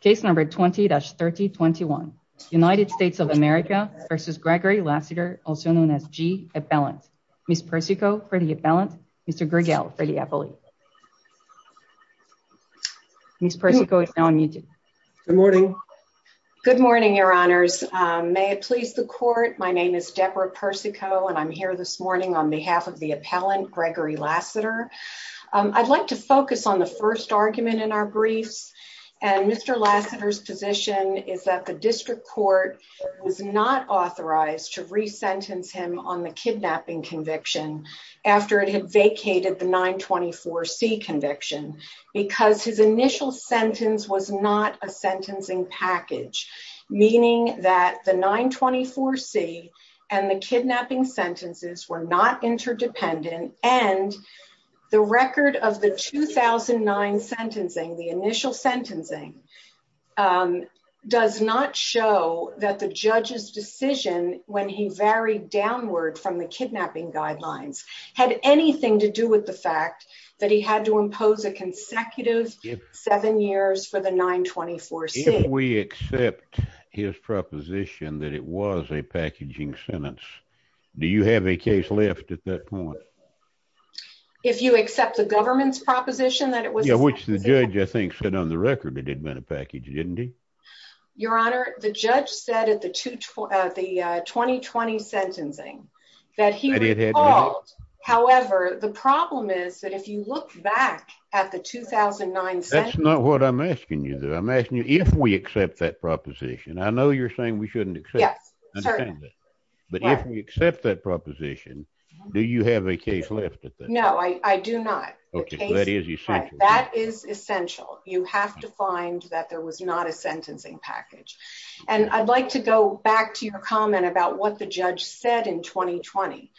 Case number 20-3021, United States of America versus Gregory Lassiter, also known as G. Appellant. Ms. Persico for the appellant, Mr. Gregel for the appellate. Ms. Persico is now unmuted. Good morning. Good morning, your honors. May it please the court, my name is Deborah Persico and I'm here this morning on behalf of the appellant, Gregory Lassiter. I'd like to focus on the first argument in our briefs. And Mr. Lassiter's position is that the district court was not authorized to re-sentence him on the kidnapping conviction after it had vacated the 924C conviction because his initial sentence was not a sentencing package. Meaning that the 924C and the kidnapping sentences were not interdependent and the record of the 2009 sentencing, the initial sentencing does not show that the judge's decision when he varied downward from the kidnapping guidelines had anything to do with the fact that he had to impose a consecutive seven years for the 924C. If we accept his proposition that it was a packaging sentence, do you have a case lift at that point? If you accept the government's proposition that it was a sentencing package. Yeah, which the judge I think said on the record it had been a package, didn't he? Your honor, the judge said at the 2020 sentencing that he recalled. However, the problem is that if you look back at the 2009 sentencing. That's not what I'm asking you though. I'm asking you if we accept that proposition. I know you're saying we shouldn't accept it. Yes, certainly. But if we accept that proposition, do you have a case lift at that point? No, I do not. Okay, that is essential. That is essential. You have to find that there was not a sentencing package. And I'd like to go back to your comment about what the judge said in 2020.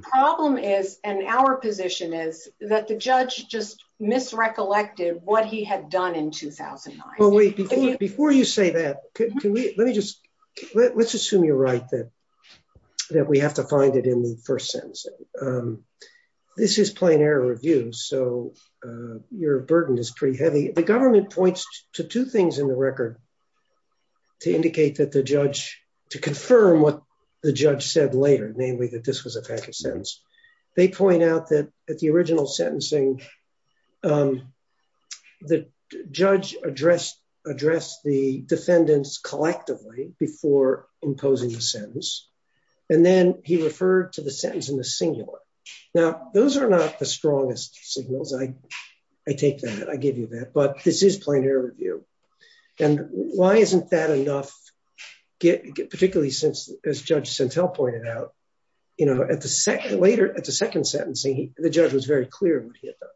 Problem is, and our position is that the judge just misrecollected what he had done in 2009. Well, wait, before you say that, can we, let me just, let's assume you're right that we have to find it in the first sentence. This is plain error review. So your burden is pretty heavy. The government points to two things in the record to indicate that the judge, to confirm what the judge said later, namely that this was a package sentence. They point out that at the original sentencing, the judge addressed the defendants collectively before imposing the sentence. And then he referred to the sentence in the singular. Now, those are not the strongest signals. I take that, I give you that, but this is plain error review. And why isn't that enough, particularly since, as Judge Santel pointed out, later at the second sentencing, the judge was very clear in what he had done.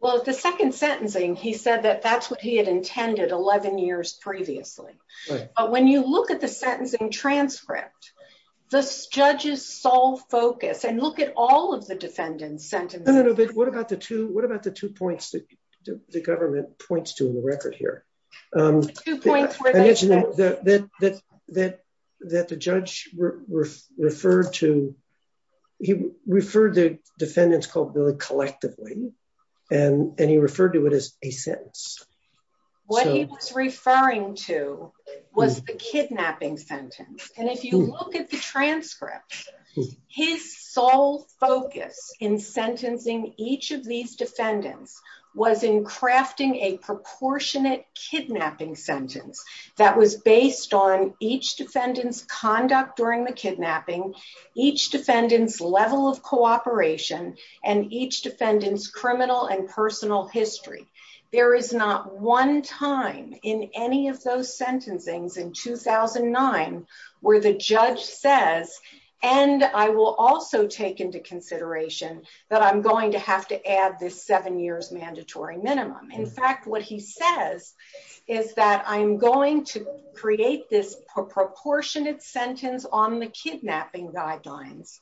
Well, at the second sentencing, he said that that's what he had intended 11 years previously. But when you look at the sentencing transcript, the judge's sole focus, and look at all of the defendants' sentences. No, no, no, but what about the two, what about the two points that the government points to in the record here? The two points where they- I mentioned that the judge referred to, he referred to defendants collectively, and he referred to it as a sentence. What he was referring to was the kidnapping sentence. And if you look at the transcript, his sole focus in sentencing each of these defendants was in crafting a proportionate kidnapping sentence that was based on each defendant's conduct during the kidnapping, each defendant's level of cooperation, and each defendant's criminal and personal history. There is not one time in any of those sentencings in 2009, where the judge says, and I will also take into consideration that I'm going to have to add this seven years mandatory minimum. In fact, what he says is that I'm going to create this proportionate sentence on the kidnapping guidelines,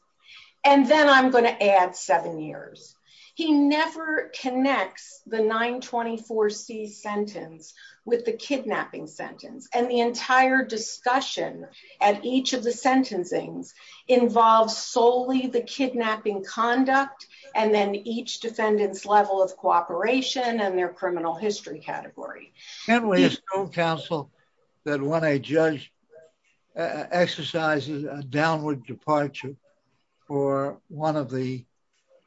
and then I'm gonna add seven years. He never connects the 924C sentence with the kidnapping sentence. And the entire discussion at each of the sentencings involves solely the kidnapping conduct, and then each defendant's level of cooperation and their criminal history category. Can we assume, counsel, that when a judge exercises a downward departure for one of the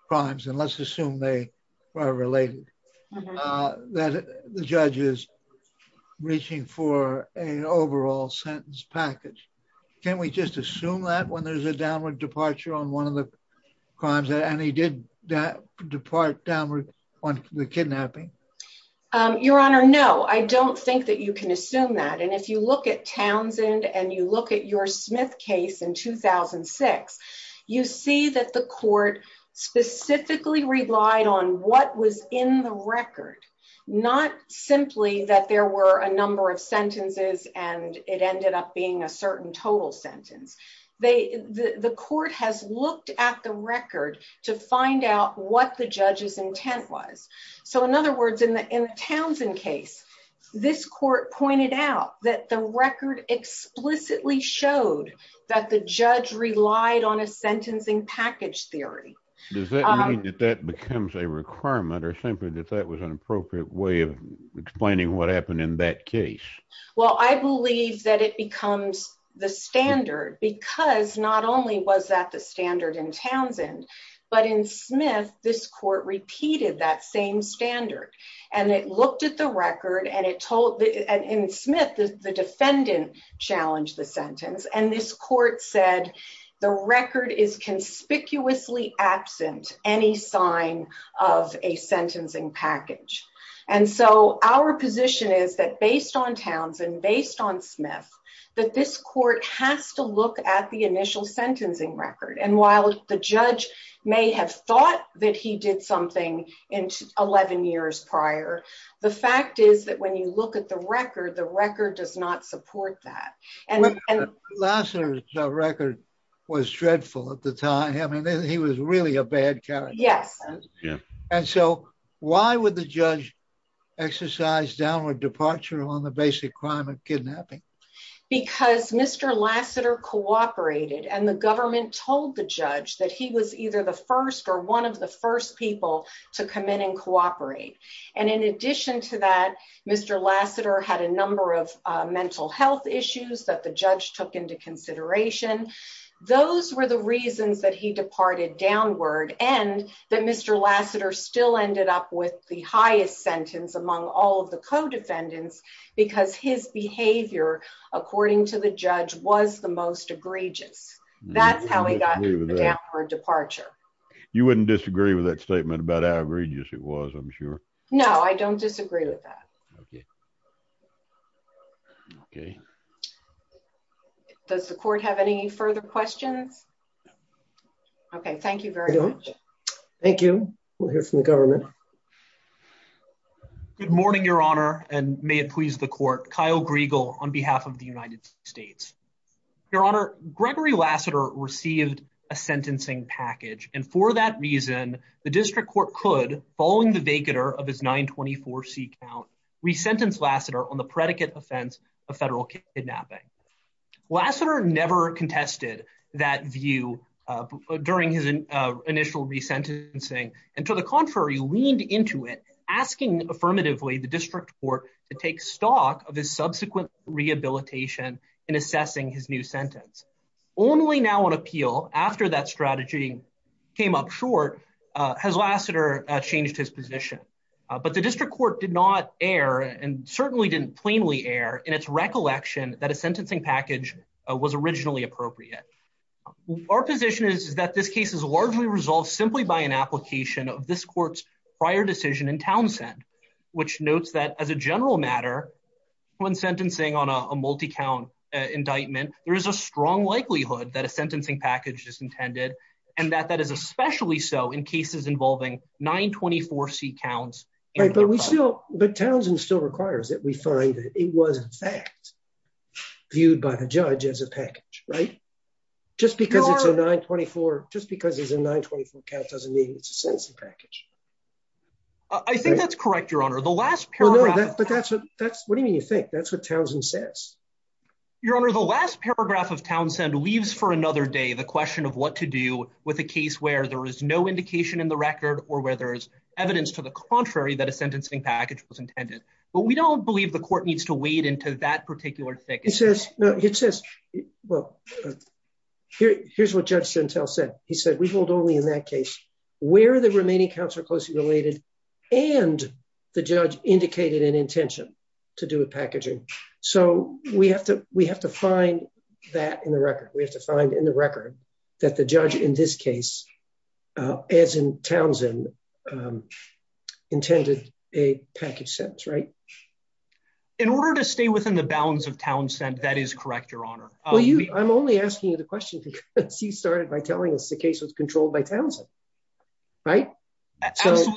crimes, and let's assume they are related, that the judge is reaching for an overall sentence package. Can we just assume that when there's a downward departure on one of the crimes, and he did depart downward on the kidnapping? Your Honor, no, I don't think that you can assume that. And if you look at Townsend and you look at your Smith case in 2006, you see that the court specifically relied on what was in the record, not simply that there were a number of sentences and it ended up being a certain total sentence. The court has looked at the record to find out what the judge's intent was. So in other words, in the Townsend case, this court pointed out that the record explicitly showed that the judge relied on a sentencing package theory. Does that mean that that becomes a requirement or simply that that was an appropriate way of explaining what happened in that case? Well, I believe that it becomes the standard because not only was that the standard in Townsend, but in Smith, this court repeated that same standard. And it looked at the record and in Smith, the defendant challenged the sentence. And this court said, the record is conspicuously absent any sign of a sentencing package. And so our position is that based on Townsend, based on Smith, that this court has to look at the initial sentencing record. And while the judge may have thought that he did something in 11 years prior, the fact is that when you look at the record, the record does not support that. And- Lasseter's record was dreadful at the time. I mean, he was really a bad character. Yes. And so why would the judge exercise downward departure on the basic crime of kidnapping? Because Mr. Lasseter cooperated and the government told the judge that he was either the first or one of the first people to come in and cooperate. And in addition to that, Mr. Lasseter had a number of mental health issues that the judge took into consideration. Those were the reasons that he departed downward and that Mr. Lasseter still ended up with the highest sentence among all of the co-defendants because his behavior, according to the judge, was the most egregious. That's how he got the downward departure. You wouldn't disagree with that statement about how egregious it was, I'm sure. No, I don't disagree with that. Okay. Okay. Does the court have any further questions? Okay, thank you very much. Thank you. We'll hear from the government. Good morning, Your Honor. And may it please the court, Kyle Griegel on behalf of the United States. Your Honor, Gregory Lasseter received a sentencing package. And for that reason, the district court could, following the vacatur of his 924C count, resentence Lasseter on the predicate offense of federal kidnapping. Lasseter never contested that view during his initial resentencing. And to the contrary, leaned into it, asking affirmatively the district court to take stock of his subsequent rehabilitation in assessing his new sentence. Only now on appeal, after that strategy came up short, has Lasseter changed his position. But the district court did not err, and certainly didn't plainly err in its recollection that a sentencing package was originally appropriate. Our position is that this case is largely resolved simply by an application of this court's prior decision in Townsend, which notes that as a general matter, when sentencing on a multi-count indictment, there is a strong likelihood that a sentencing package is intended, and that that is especially so in cases involving 924C counts. Right, but we still, but Townsend still requires that we find that it was in fact viewed by the judge as a package, right? Just because it's a 924, just because it's a 924 count doesn't mean it's a sentencing package. I think that's correct, Your Honor. The last paragraph- What do you mean you think? That's what Townsend says. Your Honor, the last paragraph of Townsend leaves for another day, the question of what to do with a case where there is no indication in the record, or where there's evidence to the contrary that a sentencing package was intended. But we don't believe the court needs to wade into that particular thing. It says, well, here's what Judge Sentell said. He said, we hold only in that case where the remaining counts are closely related and the judge indicated an intention to do with packaging. So we have to find that in the record. We have to find in the record that the judge in this case, as in Townsend, intended a package sentence, right? In order to stay within the bounds of Townsend, that is correct, Your Honor. I'm only asking you the question because you started by telling us the case was controlled by Townsend, right? Absolutely.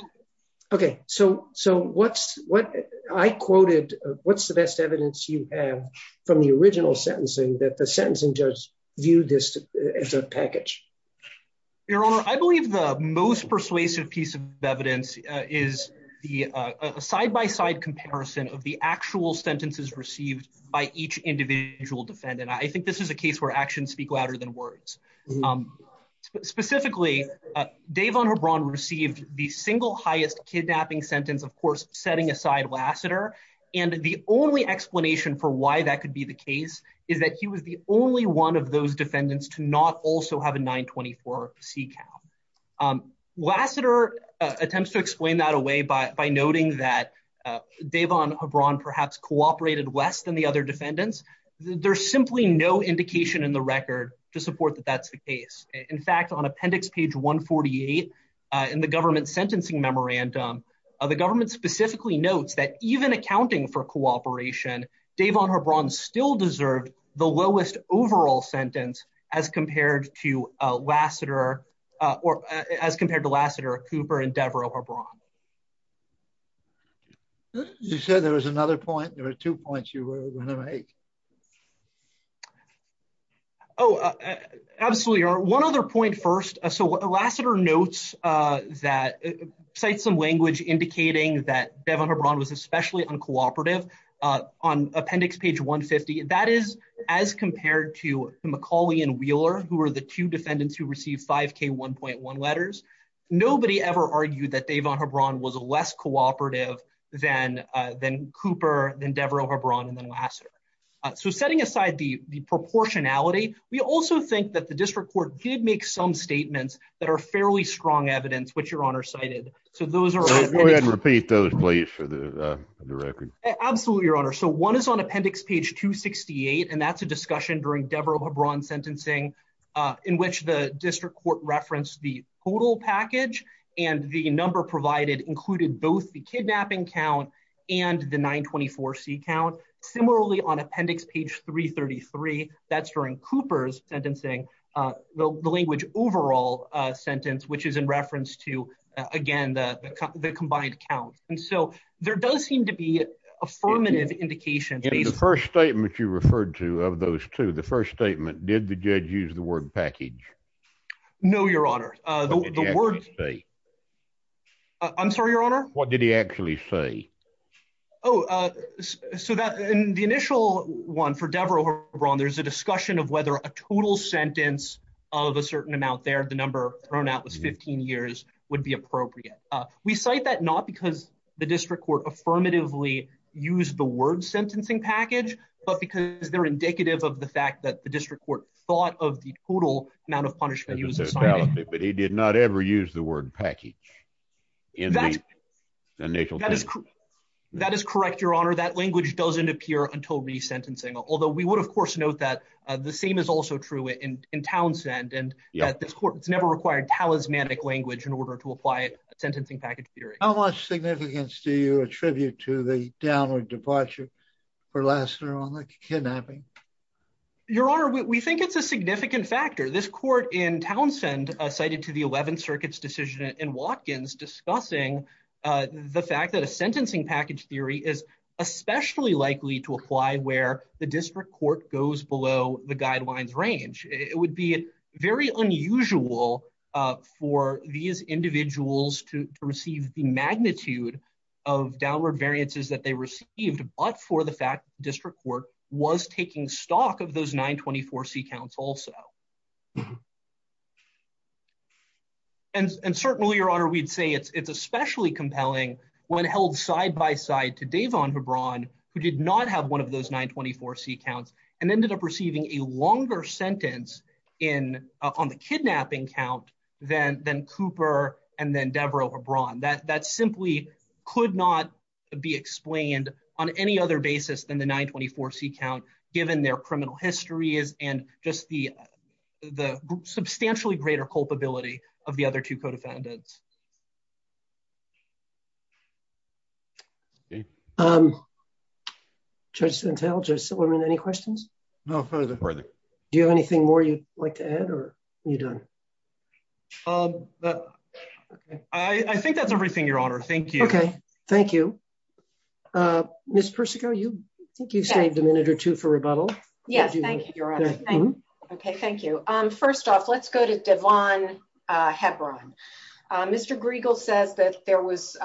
Okay, so what I quoted, what's the best evidence you have from the original sentencing that the sentencing judge viewed this as a package? Your Honor, I believe the most persuasive piece of evidence is the side-by-side comparison of the actual sentences received by each individual defendant. I think this is a case where actions speak louder than words. Specifically, Davon Hebron received the single highest kidnapping sentence, of course, setting aside Lassiter. And the only explanation for why that could be the case is that he was the only one of those defendants to not also have a 924 C count. Lassiter attempts to explain that away by noting that Davon Hebron perhaps cooperated less than the other defendants. There's simply no indication in the record to support that that's the case. In fact, on appendix page 148 in the government's sentencing memorandum, the government specifically notes that even accounting for cooperation, Davon Hebron still deserved the lowest overall sentence as compared to Lassiter, or as compared to Lassiter, Cooper, and Deverell Hebron. You said there was another point, there were two points you were gonna make. Oh, absolutely, one other point first. So Lassiter notes that, cites some language indicating that Davon Hebron was especially uncooperative. On appendix page 150, that is as compared to McCauley and Wheeler, who were the two defendants who received 5K1.1 letters. Nobody ever argued that Davon Hebron was less cooperative than Cooper, than Deverell Hebron, and then Lassiter. So setting aside the proportionality, we also think that the district court did make some statements that are fairly strong evidence, which your honor cited. So those are- Go ahead and repeat those, please, for the record. Absolutely, your honor. So one is on appendix page 268, and that's a discussion during Deverell Hebron's sentencing in which the district court referenced the total package, and the number provided included both the kidnapping count and the 924C count. Similarly, on appendix page 333, that's during Cooper's sentencing, the language overall sentence, which is in reference to, again, the combined count. And so there does seem to be affirmative indication- In the first statement you referred to, of those two, the first statement, did the judge use the word package? No, your honor. The word- What did he actually say? I'm sorry, your honor? What did he actually say? Oh, so that, in the initial one for Deverell Hebron, there's a discussion of whether a total sentence of a certain amount there, the number thrown out was 15 years, would be appropriate. We cite that not because the district court affirmatively used the word sentencing package, but because they're indicative of the fact that the district court thought of the total amount of punishment he was assigned. But he did not ever use the word package in the initial sentence. That is correct, your honor. That language doesn't appear until resentencing. Although we would, of course, note that the same is also true in Townsend, and that this court has never required talismanic language in order to apply a sentencing package theory. How much significance do you attribute to the downward departure for Lassiter on the kidnapping? Your honor, we think it's a significant factor. This court in Townsend cited to the 11th Circuit's decision in Watkins discussing the fact that a sentencing package theory is especially likely to apply where the district court goes below the guidelines range. It would be very unusual for these individuals to receive the magnitude of downward variances that they received, but for the fact that the district court was taking stock of those 924C counts also. And certainly, your honor, we'd say it's especially compelling when held side-by-side to Davon Hebron, who did not have one of those 924C counts, and ended up receiving a longer sentence on the kidnapping count than Cooper and then Debra Hebron. That simply could not be explained on any other basis than the 924C count, given their criminal histories and just the substantially greater culpability of the other two co-defendants. Judge Santel, Judge Silberman, any questions? No further. Do you have anything more you'd like to add or are you done? I think that's everything, your honor. Thank you. Okay, thank you. Ms. Persico, I think you've saved a minute or two for rebuttal. Yes, thank you, your honor. Okay, thank you. First off, let's go to Davon Hebron. Mr. Griegel says that there was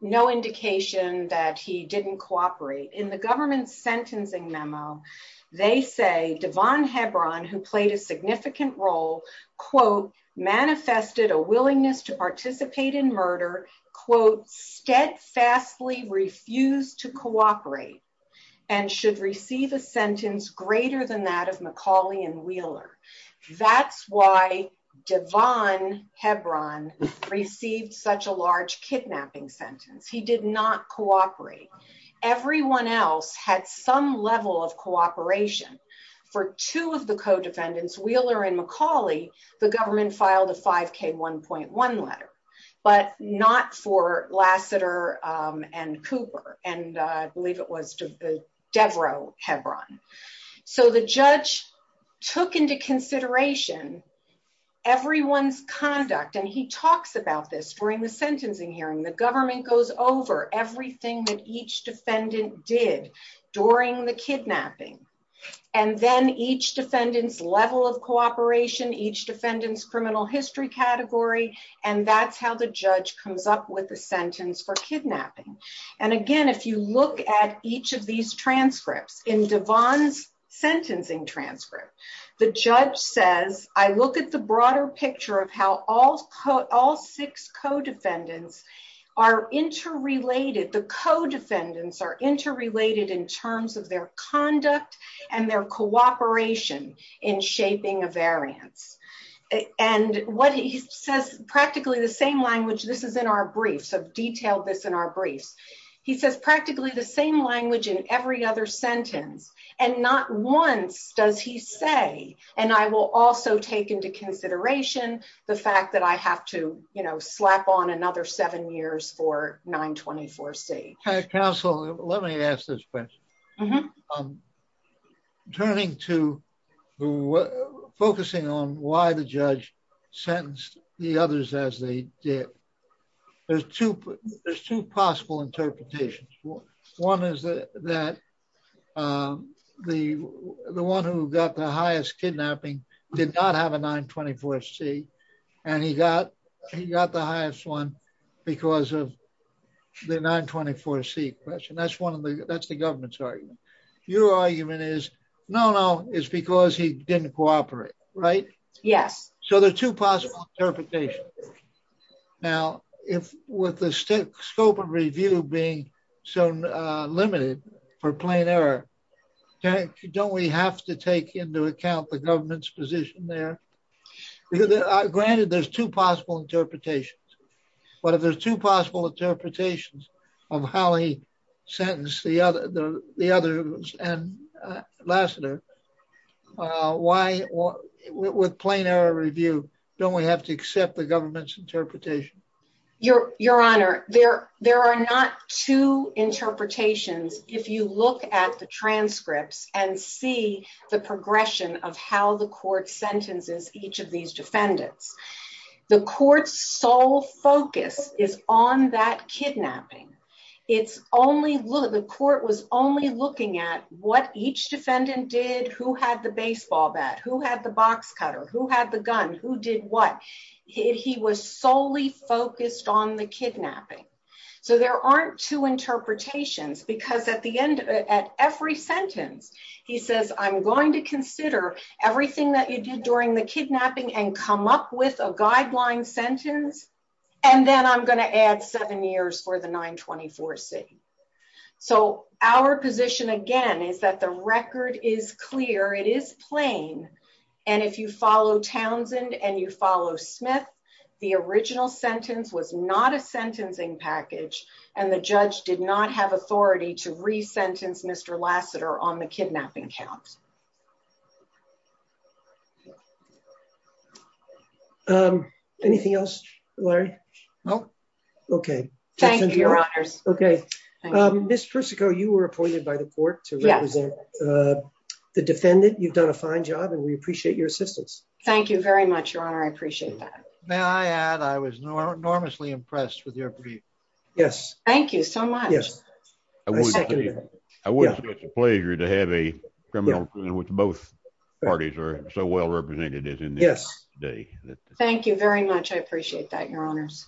no indication that he didn't cooperate. In the government's sentencing memo, they say Davon Hebron, who played a significant role, quote, manifested a willingness to participate in murder, quote, steadfastly refused to cooperate and should receive a sentence greater than that of McCauley and Wheeler. That's why Davon Hebron received such a large kidnapping sentence. He did not cooperate. Everyone else had some level of cooperation. For two of the co-defendants, Wheeler and McCauley, the government filed a 5K1.1 letter, but not for Lassiter and Cooper. And I believe it was to Devereux Hebron. So the judge took into consideration everyone's conduct. And he talks about this during the sentencing hearing. The government goes over everything that each defendant did during the kidnapping. And then each defendant's level of cooperation, each defendant's criminal history category. And that's how the judge comes up with the sentence for kidnapping. And again, if you look at each of these transcripts, in Davon's sentencing transcript, the judge says, I look at the broader picture of how all six co-defendants are interrelated. The co-defendants are interrelated in terms of their conduct and their cooperation in shaping a variance. And what he says, practically the same language, this is in our briefs, I've detailed this in our briefs. He says, practically the same language in every other sentence. And not once does he say, and I will also take into consideration the fact that I have to slap on another seven years for 924C. Counsel, let me ask this question. Turning to, focusing on why the judge sentenced the others as they did, there's two possible interpretations. One is that the one who got the highest kidnapping did not have a 924C and he got the highest one because of the 924C question. That's the government's argument. Your argument is, no, no, it's because he didn't cooperate, right? Yes. So there are two possible interpretations. Now, with the scope of review being so limited for plain error, don't we have to take into account the government's position there? Granted, there's two possible interpretations, but if there's two possible interpretations of how he sentenced the others and Lassiter, why, with plain error review, don't we have to accept the government's interpretation? Your Honor, there are not two interpretations if you look at the transcripts and see the progression of how the court sentences each of these defendants. The court's sole focus is on that kidnapping. It's only, the court was only looking at what each defendant did, who had the baseball bat, who had the box cutter, who had the gun, who did what? He was solely focused on the kidnapping. So there aren't two interpretations because at the end, at every sentence, he says, I'm going to consider everything that you did during the kidnapping and come up with a guideline sentence, and then I'm gonna add seven years for the 924C. So our position, again, is that the record is clear, it is plain, and if you follow Townsend and you follow Smith, the original sentence was not a sentencing package, and the judge did not have authority to re-sentence Mr. Lassiter on the kidnapping count. Anything else, Larry? No. Okay. Thank you, Your Honors. Okay. Ms. Persico, you were appointed by the court to represent the defendant. You've done a fine job and we appreciate your assistance. Thank you very much, Your Honor. I appreciate that. May I add, I was enormously impressed with your brief. Yes. Thank you so much. Yes. I second that. I wouldn't say it's a pleasure to have a criminal, which both parties are so well-represented in this day. Thank you very much. I appreciate that, Your Honors.